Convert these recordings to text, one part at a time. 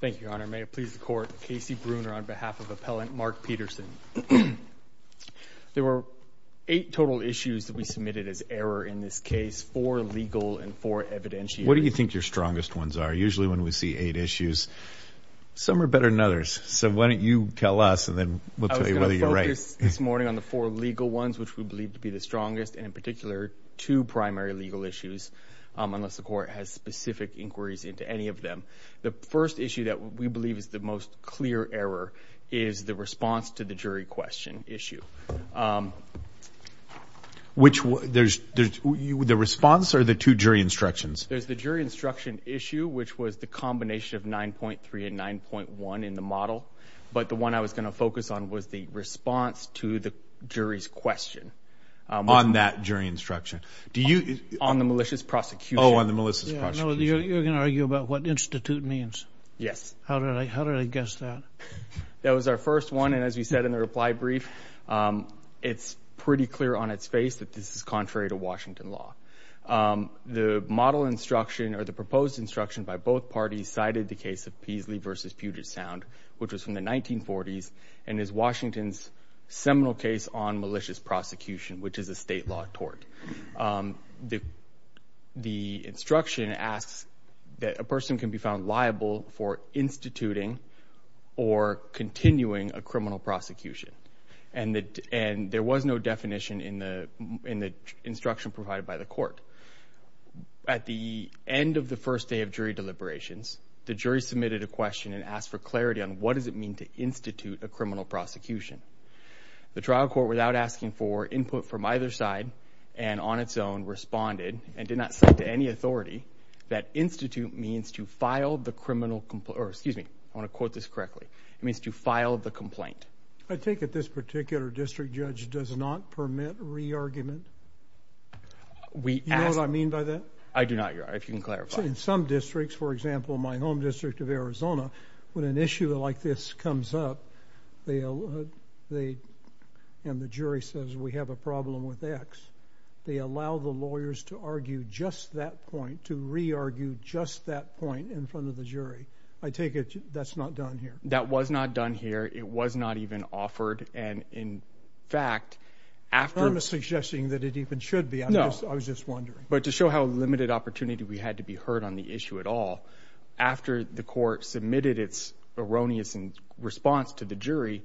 Thank you, Your Honor. May it please the Court, Casey Bruner on behalf of Appellant Mark Peterson. There were eight total issues that we submitted as error in this case, four legal and four evidentiary. What do you think your strongest ones are? Usually when we see eight issues, some are better than others. So why don't you tell us and then we'll tell you whether you're right. I was going to focus this morning on the four legal ones which we believe to be the strongest and in particular two primary legal issues, unless the Court has specific inquiries into any of them. The first issue that we believe is the most clear error is the response to the jury question issue. Which there's the response or the two jury instructions? There's the jury instruction issue which was the combination of 9.3 and 9.1 in the model. But the one I was going to focus on was the response to the jury's question. On that jury instruction? Do you... On the malicious prosecution. Oh, on the malicious prosecution. You're going to argue about what institute means? Yes. How did I guess that? That was our first one and as we said in the reply brief, it's pretty clear on its face that this is contrary to Washington law. The model instruction or the proposed instruction by both parties cited the case of Peasley versus Puget Sound which was from the 1940s and is Washington's seminal case on malicious prosecution which is a state law tort. The instruction asks that a person can be found liable for instituting or continuing a criminal prosecution and there was no definition in the instruction provided by the Court. At the end of the first day of jury deliberations, the jury submitted a question and asked for clarity on what does it mean to institute a criminal prosecution. The trial court without asking for input from either side and on its own responded and did not say to any authority that institute means to file the criminal... Excuse me. I want to quote this correctly. It means to file the complaint. I take it this particular district judge does not permit re-argument? We ask... Do you know what I mean by that? I do not, Your Honor. If you can clarify. In some districts, for example, my home district of Arizona, when an issue like this comes up, and the jury says we have a problem with X, they allow the lawyers to argue just that point, to re-argue just that point in front of the jury. I take it that's not done here? That was not done here. It was not even offered and in fact, after... I'm not suggesting that it even should be. No. I was just wondering. But to show how limited opportunity we had to be heard on the issue at all, after the response to the jury,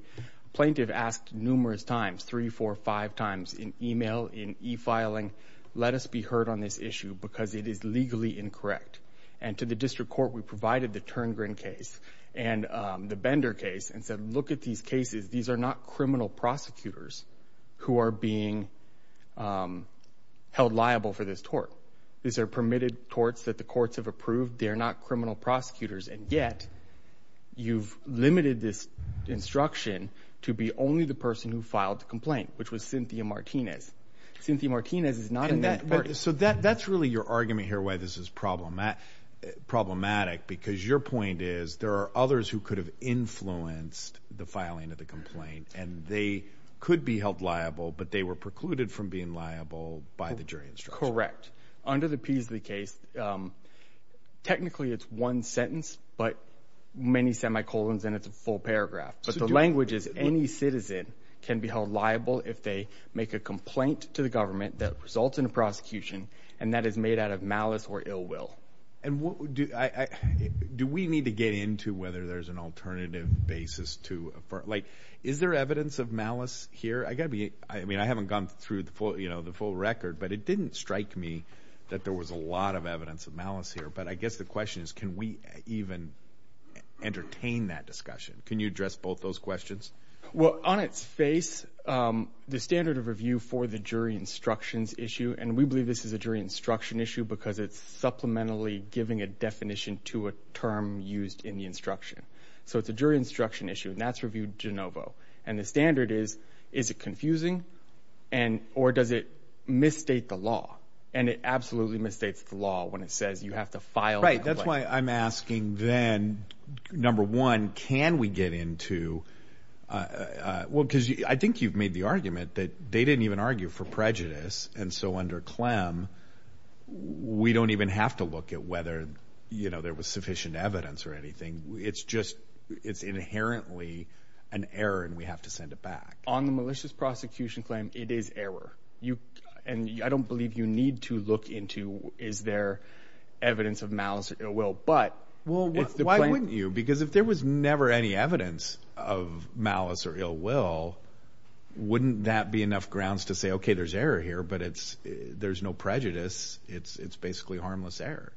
plaintiff asked numerous times, three, four, five times in email, in e-filing, let us be heard on this issue because it is legally incorrect. And to the district court, we provided the Turngrin case and the Bender case and said, look at these cases. These are not criminal prosecutors who are being held liable for this tort. These are permitted torts that the courts have approved. They're not criminal prosecutors and yet, you've limited this instruction to be only the person who filed the complaint, which was Cynthia Martinez. Cynthia Martinez is not in that court. So that's really your argument here why this is problematic because your point is, there are others who could have influenced the filing of the complaint and they could be held liable, but they were precluded from being liable by the jury instruction. Correct. But under the Peasley case, technically it's one sentence, but many semicolons and it's a full paragraph. But the language is, any citizen can be held liable if they make a complaint to the government that results in a prosecution and that is made out of malice or ill will. And do we need to get into whether there's an alternative basis to, like, is there evidence of malice here? I mean, I haven't gone through the full record, but it didn't strike me that there was a lot of evidence of malice here. But I guess the question is, can we even entertain that discussion? Can you address both those questions? Well, on its face, the standard of review for the jury instructions issue, and we believe this is a jury instruction issue because it's supplementally giving a definition to a term used in the instruction. So it's a jury instruction issue and that's reviewed de novo. And the standard is, is it confusing? Or does it misstate the law? And it absolutely misstates the law when it says you have to file a complaint. Right. That's why I'm asking then, number one, can we get into, well, because I think you've made the argument that they didn't even argue for prejudice. And so under Clem, we don't even have to look at whether, you know, there was sufficient evidence or anything. It's just, it's inherently an error and we have to send it back. On the malicious prosecution claim, it is error. You, and I don't believe you need to look into, is there evidence of malice or ill will, but- Well, why wouldn't you? Because if there was never any evidence of malice or ill will, wouldn't that be enough grounds to say, okay, there's error here, but it's, there's no prejudice. It's basically harmless error.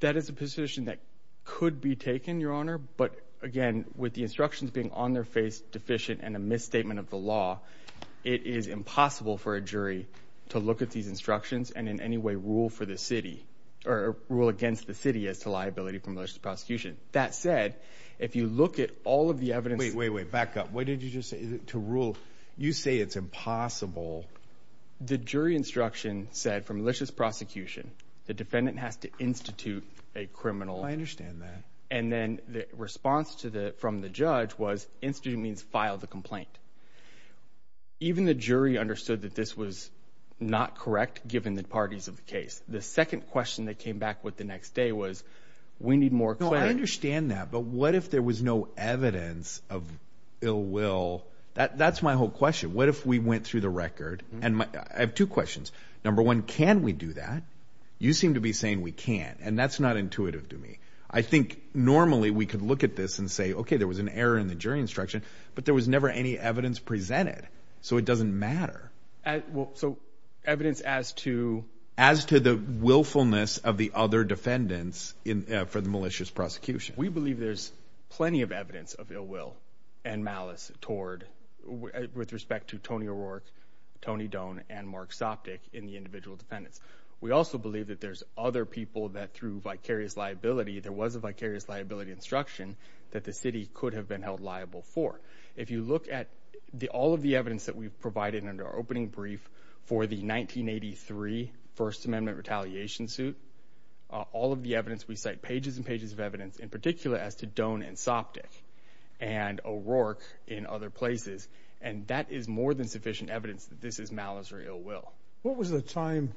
That is a position that could be taken, Your Honor. But again, with the instructions being on their face deficient and a misstatement of the law, it is impossible for a jury to look at these instructions and in any way rule for the city or rule against the city as to liability for malicious prosecution. That said, if you look at all of the evidence- Wait, wait, wait, back up. What did you just say? To rule, you say it's impossible. The jury instruction said for malicious prosecution, the defendant has to institute a criminal- I understand that. And then the response to the, from the judge was, institute means file the complaint. Even the jury understood that this was not correct, given the parties of the case. The second question that came back with the next day was, we need more clarity. No, I understand that. But what if there was no evidence of ill will? That's my whole question. What if we went through the record and my, I have two questions. Number one, can we do that? You seem to be saying we can't, and that's not intuitive to me. I think normally we could look at this and say, okay, there was an error in the jury instruction, but there was never any evidence presented. So it doesn't matter. So evidence as to- As to the willfulness of the other defendants for the malicious prosecution. We believe there's plenty of evidence of ill will and malice toward, with respect to Tony O'Rourke, Tony Doan, and Mark Sopcich in the individual defendants. We also believe that there's other people that through vicarious liability, there was a vicarious liability instruction that the city could have been held liable for. If you look at the, all of the evidence that we've provided under our opening brief for the 1983 First Amendment retaliation suit, all of the evidence, we cite pages and pages of evidence, in particular as to Doan and Sopcich and O'Rourke in other places. And that is more than sufficient evidence that this is malice or ill will. What was the time,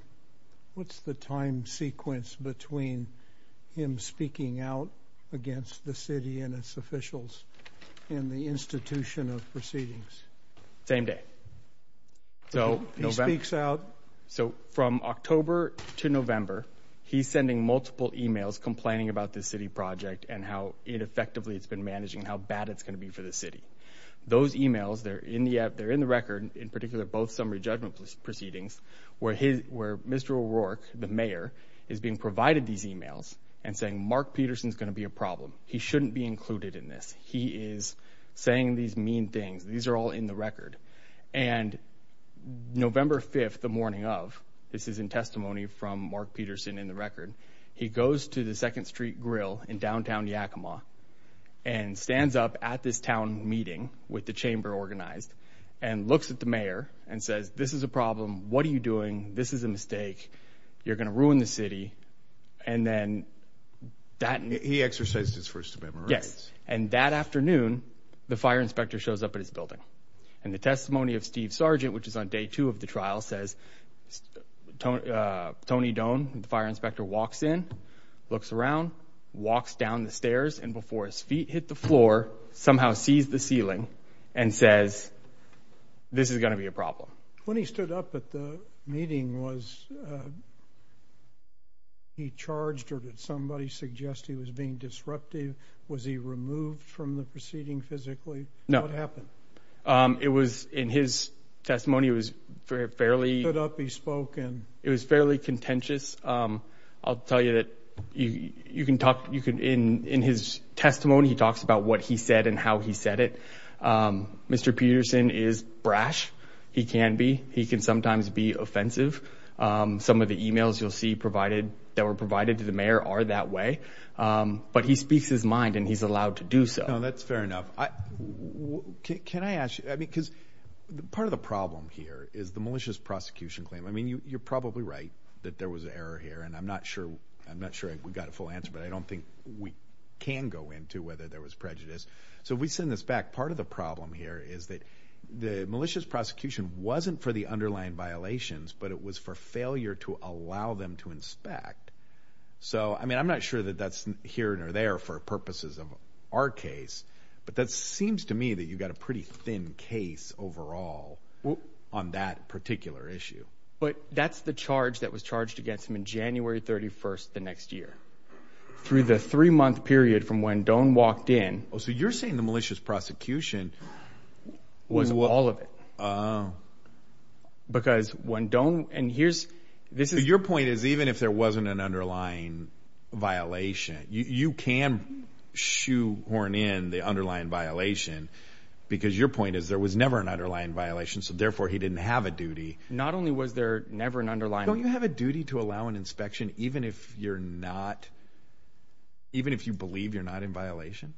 what's the time sequence between him speaking out against the city and its officials in the institution of proceedings? Same day. Okay. He speaks out. So from October to November, he's sending multiple emails complaining about this city project and how ineffectively it's been managing, how bad it's going to be for the city. Those emails, they're in the record, in particular both summary judgment proceedings, where Mr. O'Rourke, the mayor, is being provided these emails and saying, Mark Peterson's going to be a problem. He shouldn't be included in this. These are all in the record. And November 5th, the morning of, this is in testimony from Mark Peterson in the record, he goes to the 2nd Street Grill in downtown Yakima and stands up at this town meeting with the chamber organized and looks at the mayor and says, this is a problem. What are you doing? This is a mistake. You're going to ruin the city. And then that... He exercised his First Amendment rights. Yes. And that afternoon, the fire inspector shows up at his building. And the testimony of Steve Sargent, which is on day two of the trial, says Tony Doan, the fire inspector, walks in, looks around, walks down the stairs, and before his feet hit the floor, somehow sees the ceiling and says, this is going to be a problem. When he stood up at the meeting, was he charged or did somebody suggest he was being disruptive? Was he removed from the proceeding physically? No. What happened? It was, in his testimony, it was fairly... He stood up, he spoke, and... It was fairly contentious. I'll tell you that you can talk, in his testimony, he talks about what he said and how he said it. Mr. Peterson is brash. He can be. He can sometimes be offensive. Some of the emails you'll see provided, that were provided to the mayor, are that way. But he speaks his mind and he's allowed to do so. That's fair enough. Can I ask you... Because part of the problem here is the malicious prosecution claim. You're probably right that there was an error here, and I'm not sure we got a full answer, but I don't think we can go into whether there was prejudice. So we send this back. Part of the problem here is that the malicious prosecution wasn't for the underlying violations, but it was for failure to allow them to inspect. So I mean, I'm not sure that that's here or there for purposes of our case, but that seems to me that you've got a pretty thin case overall on that particular issue. But that's the charge that was charged against him in January 31st, the next year. Through the three-month period from when Doan walked in... Oh, so you're saying the malicious prosecution... Was all of it. Because when Doan... And here's... Your point is even if there wasn't an underlying violation, you can shoehorn in the underlying violation because your point is there was never an underlying violation, so therefore he didn't have a duty. Not only was there never an underlying... Don't you have a duty to allow an inspection even if you believe you're not in violation?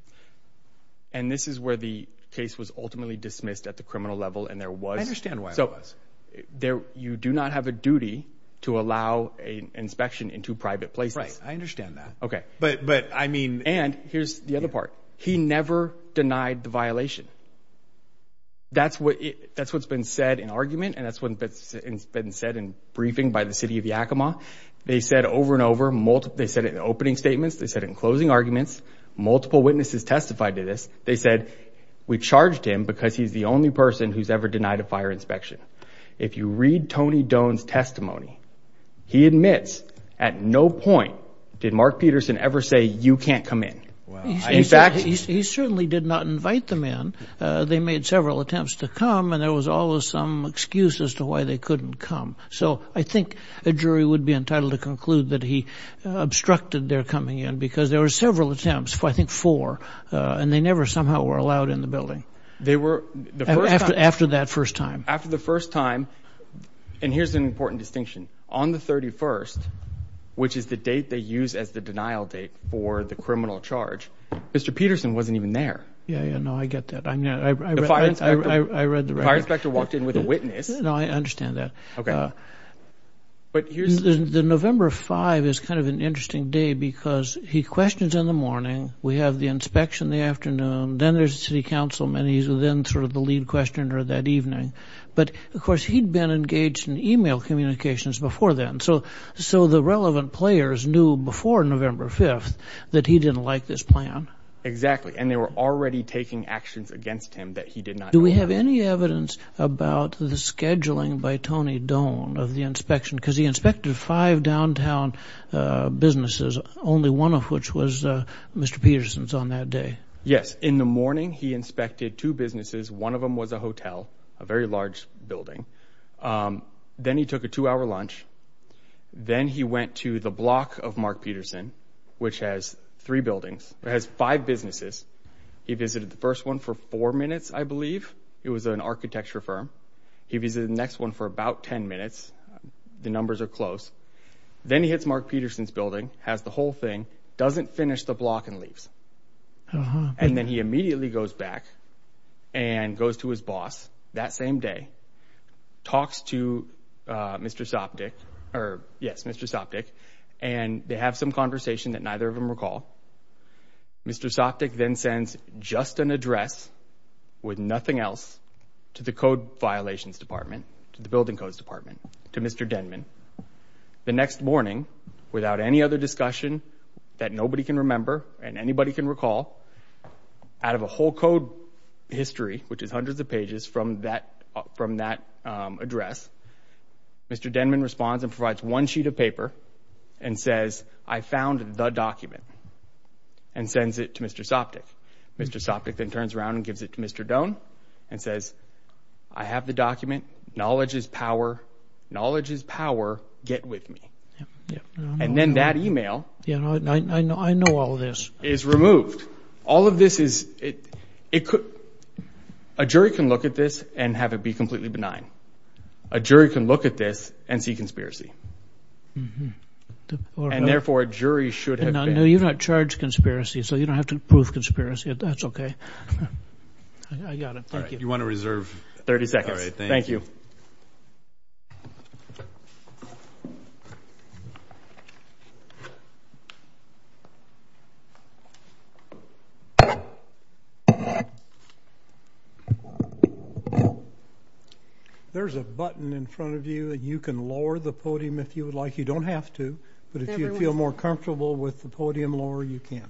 And this is where the case was ultimately dismissed at the criminal level and there was... I understand why it was. You do not have a duty to allow an inspection in two private places. Right. I understand that. Okay. But I mean... And here's the other part. He never denied the violation. That's what's been said in argument and that's what's been said in briefing by the city of Yakima. They said over and over, they said it in opening statements, they said in closing arguments. Multiple witnesses testified to this. They said, we charged him because he's the only person who's ever denied a fire inspection. If you read Tony Doan's testimony, he admits at no point did Mark Peterson ever say you can't come in. In fact... He certainly did not invite them in. They made several attempts to come and there was always some excuse as to why they couldn't come. So I think a jury would be entitled to conclude that he obstructed their coming in because there were several attempts, I think four, and they never somehow were allowed in the building. They were... The first time... After that first time. After the first time, and here's an important distinction, on the 31st, which is the date they use as the denial date for the criminal charge, Mr. Peterson wasn't even there. Yeah, yeah. No, I get that. I'm not... The fire inspector... I read the record. The fire inspector walked in with a witness. No, I understand that. Okay. But here's... The November 5th is kind of an interesting day because he questions in the morning, we have the inspection in the afternoon, then there's the city councilman, he's then sort of the lead questioner that evening, but of course he'd been engaged in email communications before then, so the relevant players knew before November 5th that he didn't like this plan. Exactly. And they were already taking actions against him that he did not... Do we have any evidence about the scheduling by Tony Doan of the inspection, because he had five downtown businesses, only one of which was Mr. Peterson's on that day. Yes. In the morning, he inspected two businesses. One of them was a hotel, a very large building. Then he took a two-hour lunch. Then he went to the block of Mark Peterson, which has three buildings, has five businesses. He visited the first one for four minutes, I believe. It was an architecture firm. He visited the next one for about 10 minutes. The numbers are close. Then he hits Mark Peterson's building, has the whole thing, doesn't finish the block and leaves. And then he immediately goes back and goes to his boss that same day, talks to Mr. Sopcich, and they have some conversation that neither of them recall. Mr. Sopcich then sends just an address with nothing else to the code violations department, the building codes department, to Mr. Denman. The next morning, without any other discussion that nobody can remember and anybody can recall, out of a whole code history, which is hundreds of pages from that address, Mr. Denman responds and provides one sheet of paper and says, I found the document, and sends it to Mr. Sopcich. Mr. Sopcich then turns around and gives it to Mr. Doan and says, I have the document, knowledge is power, knowledge is power, get with me. And then that email is removed. All of this is, it could, a jury can look at this and have it be completely benign. A jury can look at this and see conspiracy. And therefore a jury should have been. So you're not charged conspiracy, so you don't have to prove conspiracy, if that's okay. I got it. Thank you. All right. You want to reserve? 30 seconds. All right. Thank you. There's a button in front of you that you can lower the podium if you would like. You don't have to, but if you feel more comfortable with the podium lower, you can.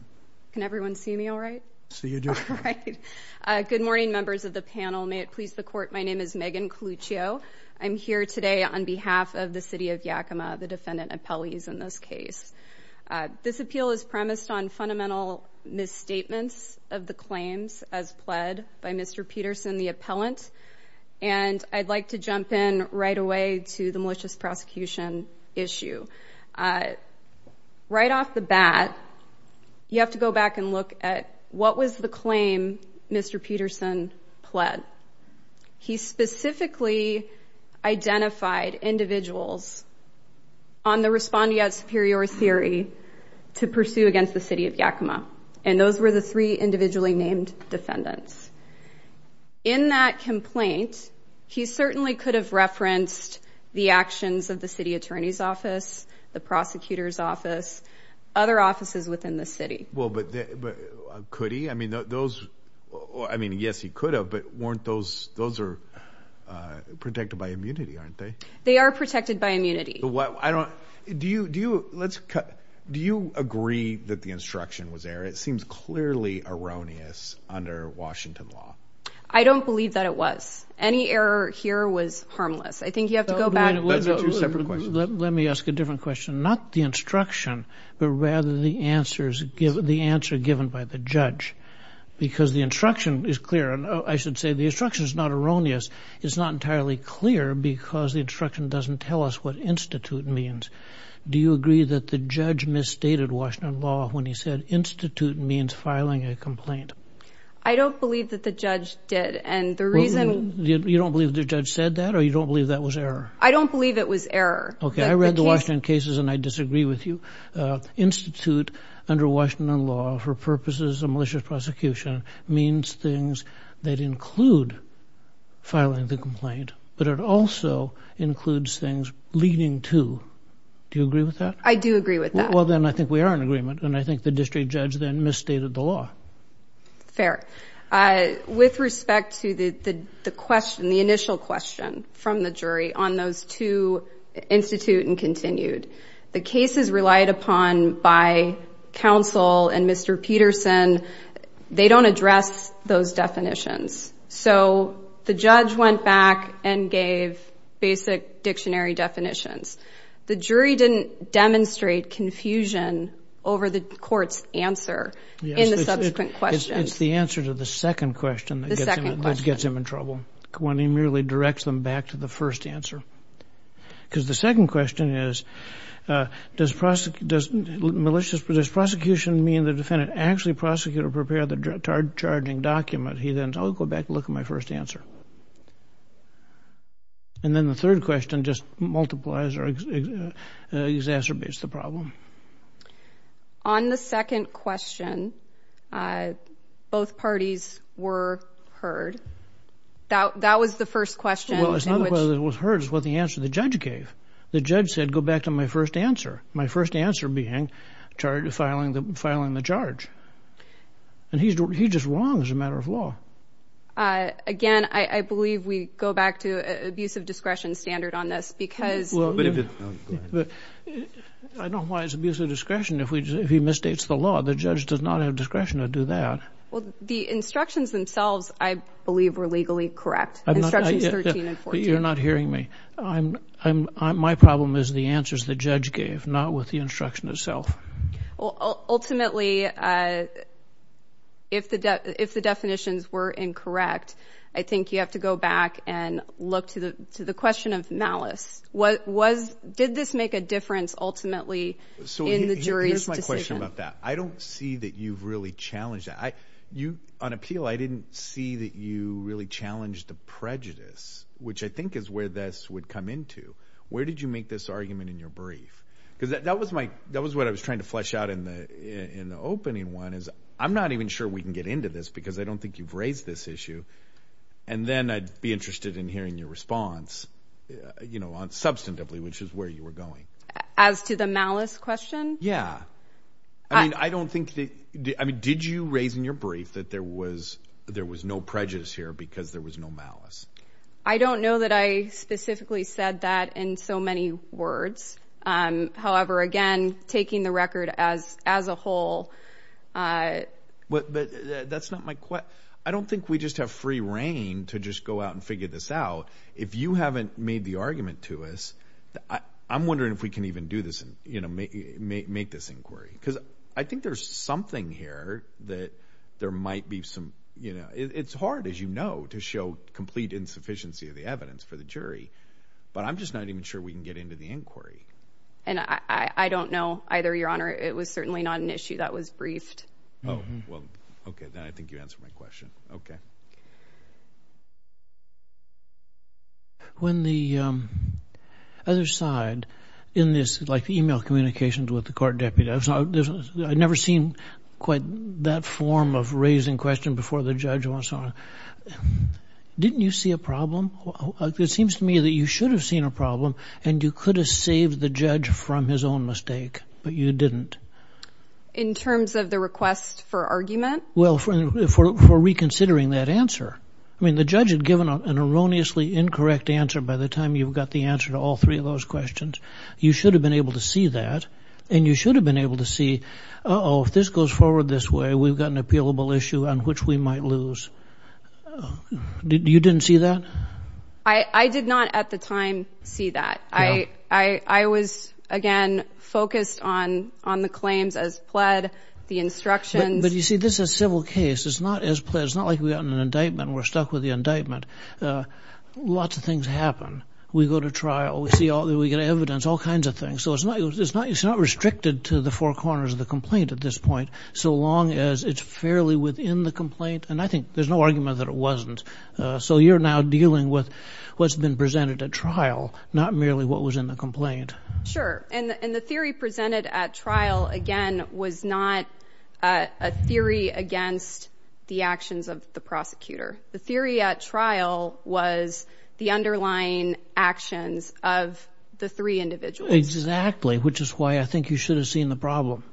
Can everyone see me all right? So you do. All right. Good morning, members of the panel. May it please the court. My name is Megan Coluccio. I'm here today on behalf of the city of Yakima, the defendant appellees in this case. This appeal is premised on fundamental misstatements of the claims as pled by Mr. Peterson, the appellant. And I'd like to jump in right away to the malicious prosecution issue. Right off the bat, you have to go back and look at what was the claim Mr. Peterson pled. He specifically identified individuals on the respondeat superior theory to pursue against the city of Yakima. And those were the three individually named defendants. In that complaint, he certainly could have referenced the actions of the city attorney's office, the prosecutor's office, other offices within the city. Well, but could he? I mean, those, I mean, yes, he could have, but weren't those, those are protected by immunity, aren't they? They are protected by immunity. Well, I don't, do you, do you, let's cut. Do you agree that the instruction was there? It seems clearly erroneous under Washington law. I don't believe that it was. Any error here was harmless. I think you have to go back. Let me ask a different question, not the instruction, but rather the answers given, the answer given by the judge, because the instruction is clear and I should say the instruction is not erroneous. It's not entirely clear because the instruction doesn't tell us what institute means. Do you agree that the judge misstated Washington law when he said institute means filing a complaint? I don't believe that the judge did, and the reason... You don't believe the judge said that or you don't believe that was error? I don't believe it was error. Okay, I read the Washington cases and I disagree with you. Institute under Washington law for purposes of malicious prosecution means things that Do you agree with that? I do agree with that. Well, then I think we are in agreement and I think the district judge then misstated the law. Fair. Uh, with respect to the, the, the question, the initial question from the jury on those two institute and continued, the cases relied upon by counsel and Mr. Peterson, they don't address those definitions. So the judge went back and gave basic dictionary definitions. The jury didn't demonstrate confusion over the court's answer in the subsequent questions. It's the answer to the second question that gets him in trouble when he merely directs them back to the first answer. Because the second question is, uh, does prosecution, does malicious, does prosecution mean the defendant actually prosecute or prepare the charging document? He then, I'll go back and look at my first answer. And then the third question just multiplies or exacerbates the problem. On the second question, uh, both parties were heard that, that was the first question. Well, it's not the question that was heard, it was the answer the judge gave. The judge said, go back to my first answer. My first answer being charged with filing the, filing the charge. And he's, he's just wrong as a matter of law. Uh, again, I, I believe we go back to abusive discretion standard on this because... Well, but if it... Go ahead. I don't know why it's abusive discretion if we, if he misstates the law. The judge does not have discretion to do that. Well, the instructions themselves, I believe were legally correct. Instructions 13 and 14. I'm not... But you're not hearing me. I'm, I'm, I'm, my problem is the answers the judge gave, not with the instruction itself. Well, ultimately, uh, if the, if the definitions were incorrect, I think you have to go back and look to the, to the question of malice. What was, did this make a difference ultimately in the jury's decision? So, here's my question about that. I don't see that you've really challenged that. I, you, on appeal, I didn't see that you really challenged the prejudice, which I think is where this would come into. Where did you make this argument in your brief? Because that was my, that was what I was trying to flesh out in the, in the opening one is I'm not even sure we can get into this because I don't think you've raised this issue. And then I'd be interested in hearing your response, you know, on substantively, which is where you were going. As to the malice question? Yeah. I mean, I don't think that, I mean, did you raise in your brief that there was, there was no prejudice here because there was no malice? I don't know that I specifically said that in so many words. However, again, taking the record as, as a whole. But, but that's not my, I don't think we just have free reign to just go out and figure this out. If you haven't made the argument to us, I, I'm wondering if we can even do this and, you know, make, make, make this inquiry. Because I think there's something here that there might be some, you know, it's hard as you know, to show complete insufficiency of the evidence for the jury, but I'm just not even sure we can get into the inquiry. And I, I don't know either, Your Honor. It was certainly not an issue that was briefed. Oh, well, okay. Then I think you answered my question. Okay. When the, um, other side in this, like the email communications with the court deputies, I've never seen quite that form of raising question before the judge wants on. Didn't you see a problem? It seems to me that you should have seen a problem and you could have saved the judge from his own mistake, but you didn't. In terms of the request for argument? Well, for reconsidering that answer. I mean, the judge had given an erroneously incorrect answer by the time you've got the answer to all three of those questions. You should have been able to see that and you should have been able to see, oh, if this goes forward this way, we've got an appealable issue on which we might lose. You didn't see that? I did not at the time see that. I was, again, focused on, on the claims as pled, the instructions. But you see, this is a civil case. It's not as pled. It's not like we got an indictment and we're stuck with the indictment. Lots of things happen. We go to trial. We see all, we get evidence, all kinds of things. So it's not, it's not, it's not restricted to the four corners of the complaint at this point so long as it's fairly within the complaint. And I think there's no argument that it wasn't. So you're now dealing with what's been presented at trial, not merely what was in the complaint. Sure. And the theory presented at trial, again, was not a theory against the actions of the prosecutor. The theory at trial was the underlying actions of the three individuals. Exactly. Which is why I think you should have seen the problem.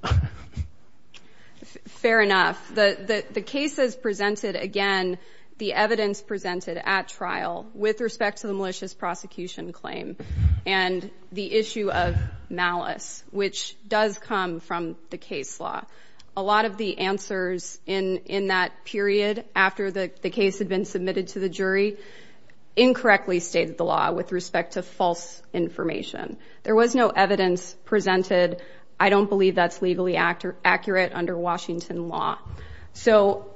Fair enough. The, the, the cases presented, again, the evidence presented at trial with respect to the malicious prosecution claim and the issue of malice, which does come from the case law. A lot of the answers in, in that period after the case had been submitted to the jury, incorrectly stated the law with respect to false information. There was no evidence presented. I don't believe that's legally accurate under Washington law. So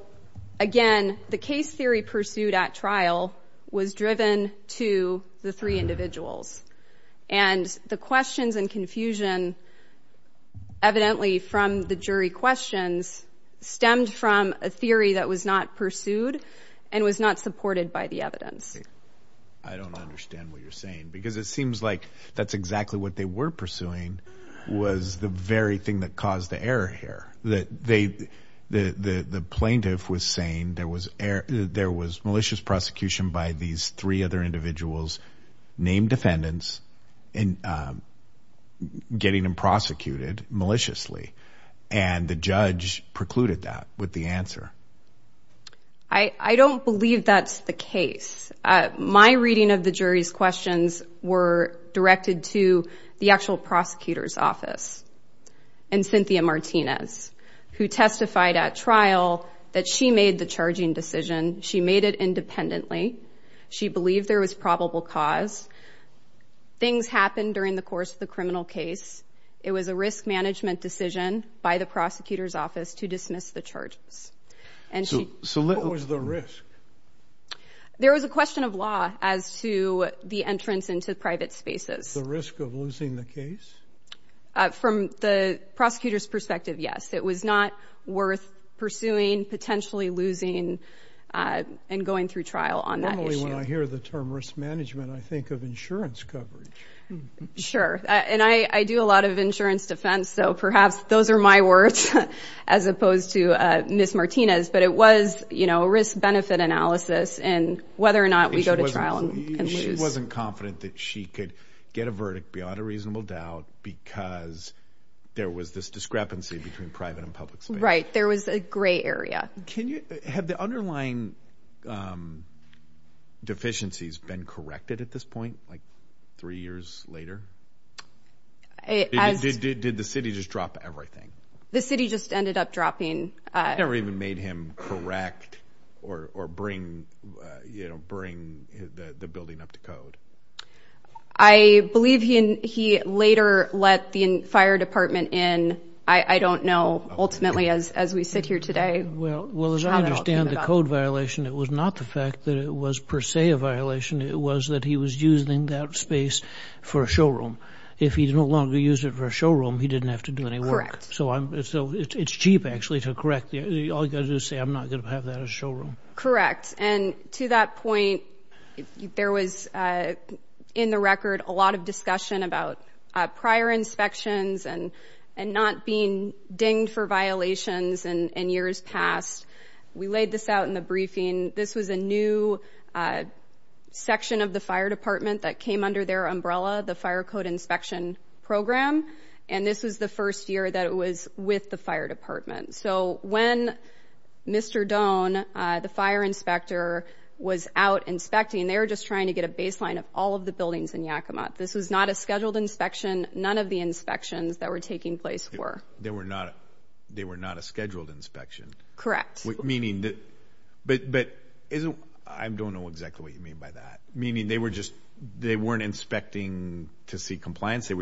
again, the case theory pursued at trial was driven to the three individuals. And the questions and confusion evidently from the jury questions stemmed from a theory that was not pursued and was not supported by the evidence. I don't understand what you're saying because it seems like that's exactly what they were pursuing was the very thing that caused the error here. That they, the, the, the plaintiff was saying there was air, there was malicious prosecution by these three other individuals named defendants and getting them prosecuted maliciously. And the judge precluded that with the answer. I don't believe that's the case. My reading of the jury's questions were directed to the actual prosecutor's office and Cynthia Martinez who testified at trial that she made the charging decision. She made it independently. She believed there was probable cause. Things happened during the course of the criminal case. It was a risk management decision by the prosecutor's office to dismiss the charges. And she. So what was the risk? There was a question of law as to the entrance into private spaces. The risk of losing the case? From the prosecutor's perspective, yes. It was not worth pursuing, potentially losing and going through trial on that issue. Normally when I hear the term risk management, I think of insurance coverage. Sure. And I, I do a lot of insurance defense, so perhaps those are my words as opposed to Ms. Martinez. But it was, you know, a risk benefit analysis and whether or not we go to trial and lose. She wasn't confident that she could get a verdict beyond a reasonable doubt because there was this discrepancy between private and public space. Right. There was a gray area. Can you, have the underlying deficiencies been corrected at this point, like three years later? As. Did, did, did the city just drop everything? The city just ended up dropping. It never even made him correct or, or bring, you know, bring the building up to code. I believe he, he later let the fire department in. I don't know, ultimately, as, as we sit here today. Well, well, as I understand the code violation, it was not the fact that it was per se a violation. It was that he was using that space for a showroom. If he's no longer used it for a showroom, he didn't have to do any work. So I'm, so it's cheap actually to correct the, all you gotta do is say, I'm not going to have that as a showroom. Correct. Yes. And to that point, there was in the record, a lot of discussion about prior inspections and, and not being dinged for violations and years past. We laid this out in the briefing. This was a new section of the fire department that came under their umbrella, the fire code inspection program. And this was the first year that it was with the fire department. So when Mr. Doan, the fire inspector was out inspecting, they were just trying to get a baseline of all of the buildings in Yakima. This was not a scheduled inspection. None of the inspections that were taking place were, they were not, they were not a scheduled inspection. Correct. Meaning that, but, but isn't, I don't know exactly what you mean by that. Meaning they were just, they weren't inspecting to see compliance. But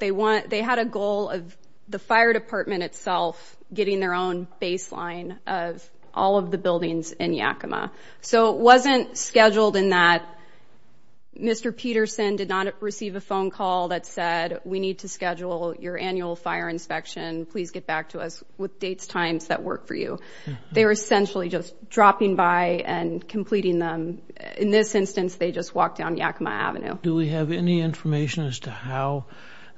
they want, they had a goal of the fire department itself, getting their own baseline of all of the buildings in Yakima. So it wasn't scheduled in that Mr. Peterson did not receive a phone call that said, we need to schedule your annual fire inspection. Please get back to us with dates, times that work for you. They were essentially just dropping by and completing them. In this instance, they just walked down Yakima Avenue. Do we have any information as to how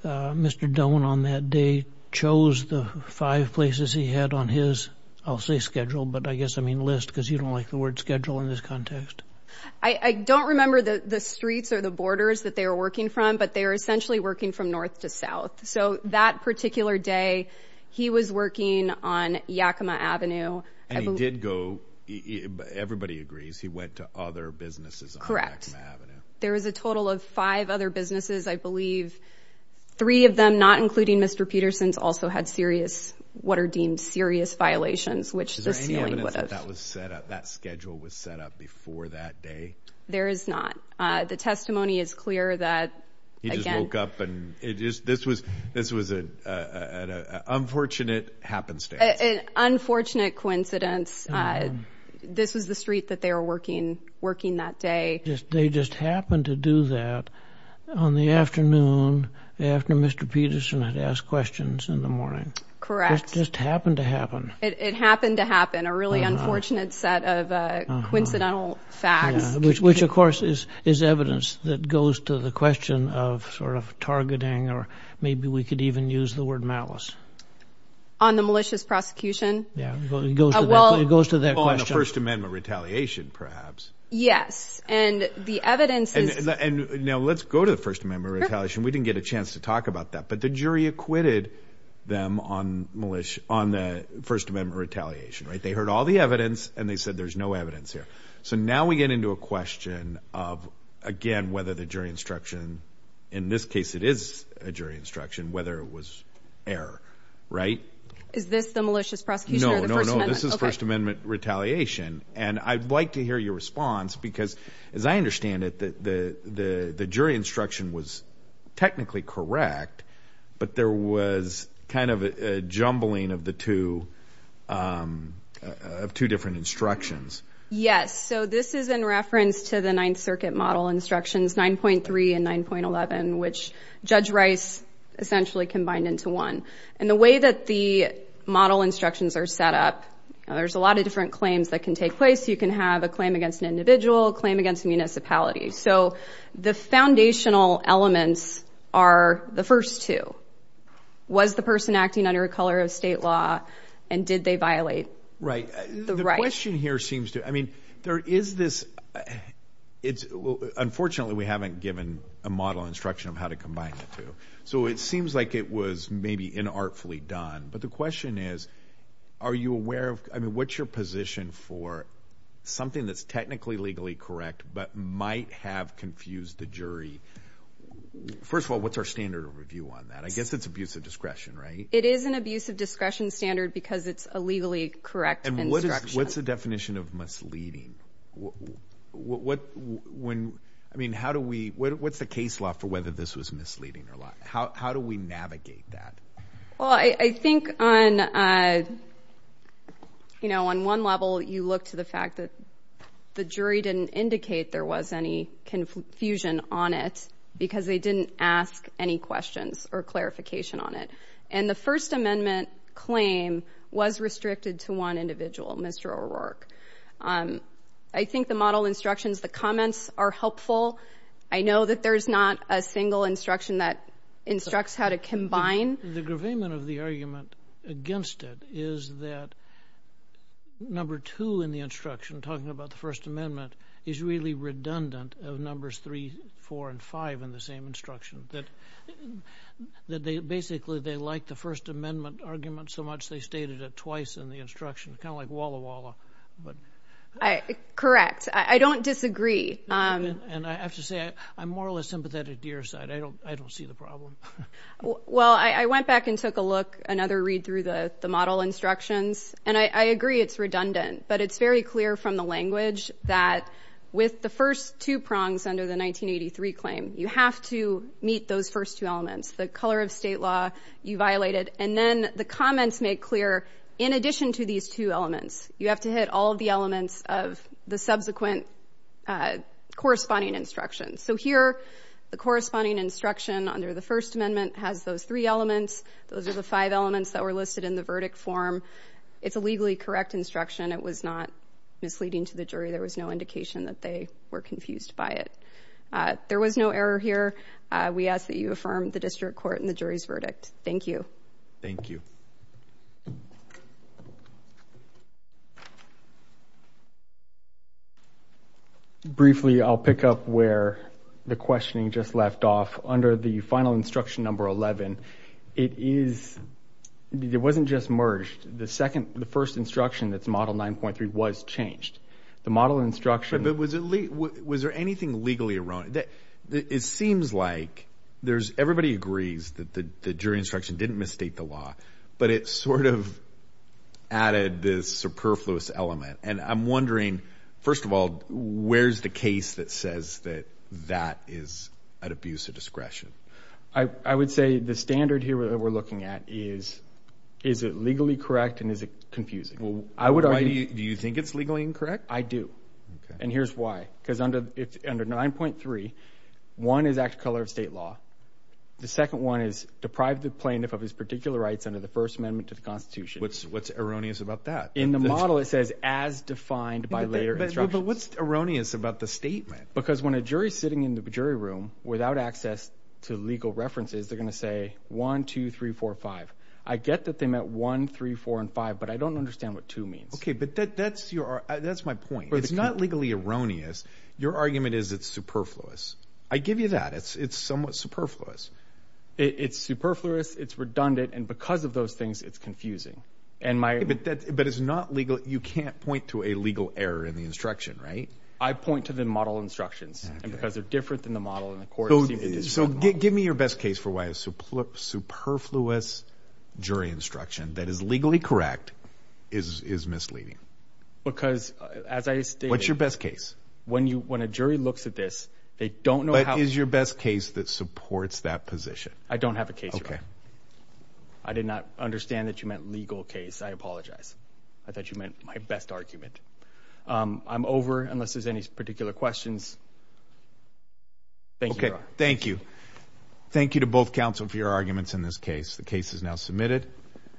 Mr. Doan on that day chose the five places he had on his, I'll say schedule, but I guess I mean list, because you don't like the word schedule in this context. I don't remember the streets or the borders that they were working from, but they were essentially working from north to south. So that particular day he was working on Yakima Avenue. And he did go, everybody agrees, he went to other businesses on Yakima Avenue. There was a total of five other businesses. I believe three of them, not including Mr. Peterson's, also had serious, what are deemed serious violations, which the ceiling was set up. That schedule was set up before that day. There is not. The testimony is clear that he just woke up and it just, this was, this was an unfortunate happenstance. An unfortunate coincidence. This was the street that they were working, working that day. They just happened to do that on the afternoon after Mr. Peterson had asked questions in the morning. Correct. It just happened to happen. It happened to happen. A really unfortunate set of coincidental facts. Which of course is evidence that goes to the question of sort of targeting, or maybe we could even use the word malice. On the malicious prosecution? Yeah. It goes to that question. Well, on the First Amendment retaliation perhaps. Yes. Yes. And the evidence is. And now let's go to the First Amendment retaliation. We didn't get a chance to talk about that, but the jury acquitted them on the First Amendment retaliation, right? They heard all the evidence and they said there's no evidence here. So now we get into a question of, again, whether the jury instruction, in this case it is a jury instruction, whether it was error, right? Is this the malicious prosecution or the First Amendment? No, no, no. This is First Amendment retaliation. And I'd like to hear your response, because as I understand it, the jury instruction was technically correct, but there was kind of a jumbling of the two, of two different instructions. Yes. So this is in reference to the Ninth Circuit model instructions 9.3 and 9.11, which Judge Rice essentially combined into one. And the way that the model instructions are set up, there's a lot of different claims that can take place. You can have a claim against an individual, a claim against a municipality. So the foundational elements are the first two. Was the person acting under a color of state law and did they violate the right? Right. The question here seems to, I mean, there is this, it's, unfortunately we haven't given a model instruction of how to combine the two. So it seems like it was maybe inartfully done. But the question is, are you aware of, I mean, what's your position for something that's technically legally correct, but might have confused the jury? First of all, what's our standard of review on that? I guess it's abuse of discretion, right? It is an abuse of discretion standard because it's a legally correct instruction. What's the definition of misleading? What when, I mean, how do we, what's the case law for whether this was misleading or not? How do we navigate that? Well, I think on, you know, on one level you look to the fact that the jury didn't indicate there was any confusion on it because they didn't ask any questions or clarification on it. And the first amendment claim was restricted to one individual, Mr. O'Rourke. I think the model instructions, the comments are helpful. I know that there's not a single instruction that instructs how to combine. The gravainment of the argument against it is that number two in the instruction, talking about the first amendment, is really redundant of numbers three, four, and five in the same instruction. That they basically, they like the first amendment argument so much they stated it twice in the instruction. Kind of like walla walla. Correct. I don't disagree. And I have to say, I'm more or less sympathetic to your side. I don't see the problem. Well, I went back and took a look, another read through the model instructions. And I agree it's redundant. But it's very clear from the language that with the first two prongs under the 1983 claim, you have to meet those first two elements. The color of state law, you violate it. And then the comments make clear, in addition to these two elements, you have to hit all of the elements of the subsequent corresponding instructions. So here, the corresponding instruction under the first amendment has those three elements. Those are the five elements that were listed in the verdict form. It's a legally correct instruction. It was not misleading to the jury. There was no indication that they were confused by it. There was no error here. We ask that you affirm the district court and the jury's verdict. Thank you. Thank you. Briefly, I'll pick up where the questioning just left off. Under the final instruction number 11, it wasn't just merged. The first instruction that's model 9.3 was changed. The model instruction... But was there anything legally erroneous? It seems like everybody agrees that the jury instruction didn't misstate the law, but it sort of added this superfluous element. And I'm wondering, first of all, where's the case that says that that is an abuse of discretion? I would say the standard here that we're looking at is, is it legally correct and is it confusing? I would argue... Do you think it's legally incorrect? I do. Okay. And here's why. Because under 9.3, one is act of color of state law. The second one is deprive the plaintiff of his particular rights under the First Amendment to the Constitution. What's erroneous about that? In the model, it says, as defined by later instructions. But what's erroneous about the statement? Because when a jury's sitting in the jury room without access to legal references, they're going to say, one, two, three, four, five. I get that they meant one, three, four, and five, but I don't understand what two means. Okay. But that's my point. It's not legally erroneous. Your argument is it's superfluous. I give you that. It's somewhat superfluous. It's superfluous, it's redundant, and because of those things, it's confusing. But it's not legal. You can't point to a legal error in the instruction, right? I point to the model instructions, and because they're different than the model in the court, it seems to be different model. So give me your best case for why a superfluous jury instruction that is legally correct is misleading. Because, as I stated- What's your best case? When a jury looks at this, they don't know how- What is your best case that supports that position? I don't have a case for that. Okay. I did not understand that you meant legal case. I apologize. I thought you meant my best argument. I'm over, unless there's any particular questions. Thank you, Your Honor. Okay, thank you. Thank you to both counsel for your arguments in this case. The case is now submitted.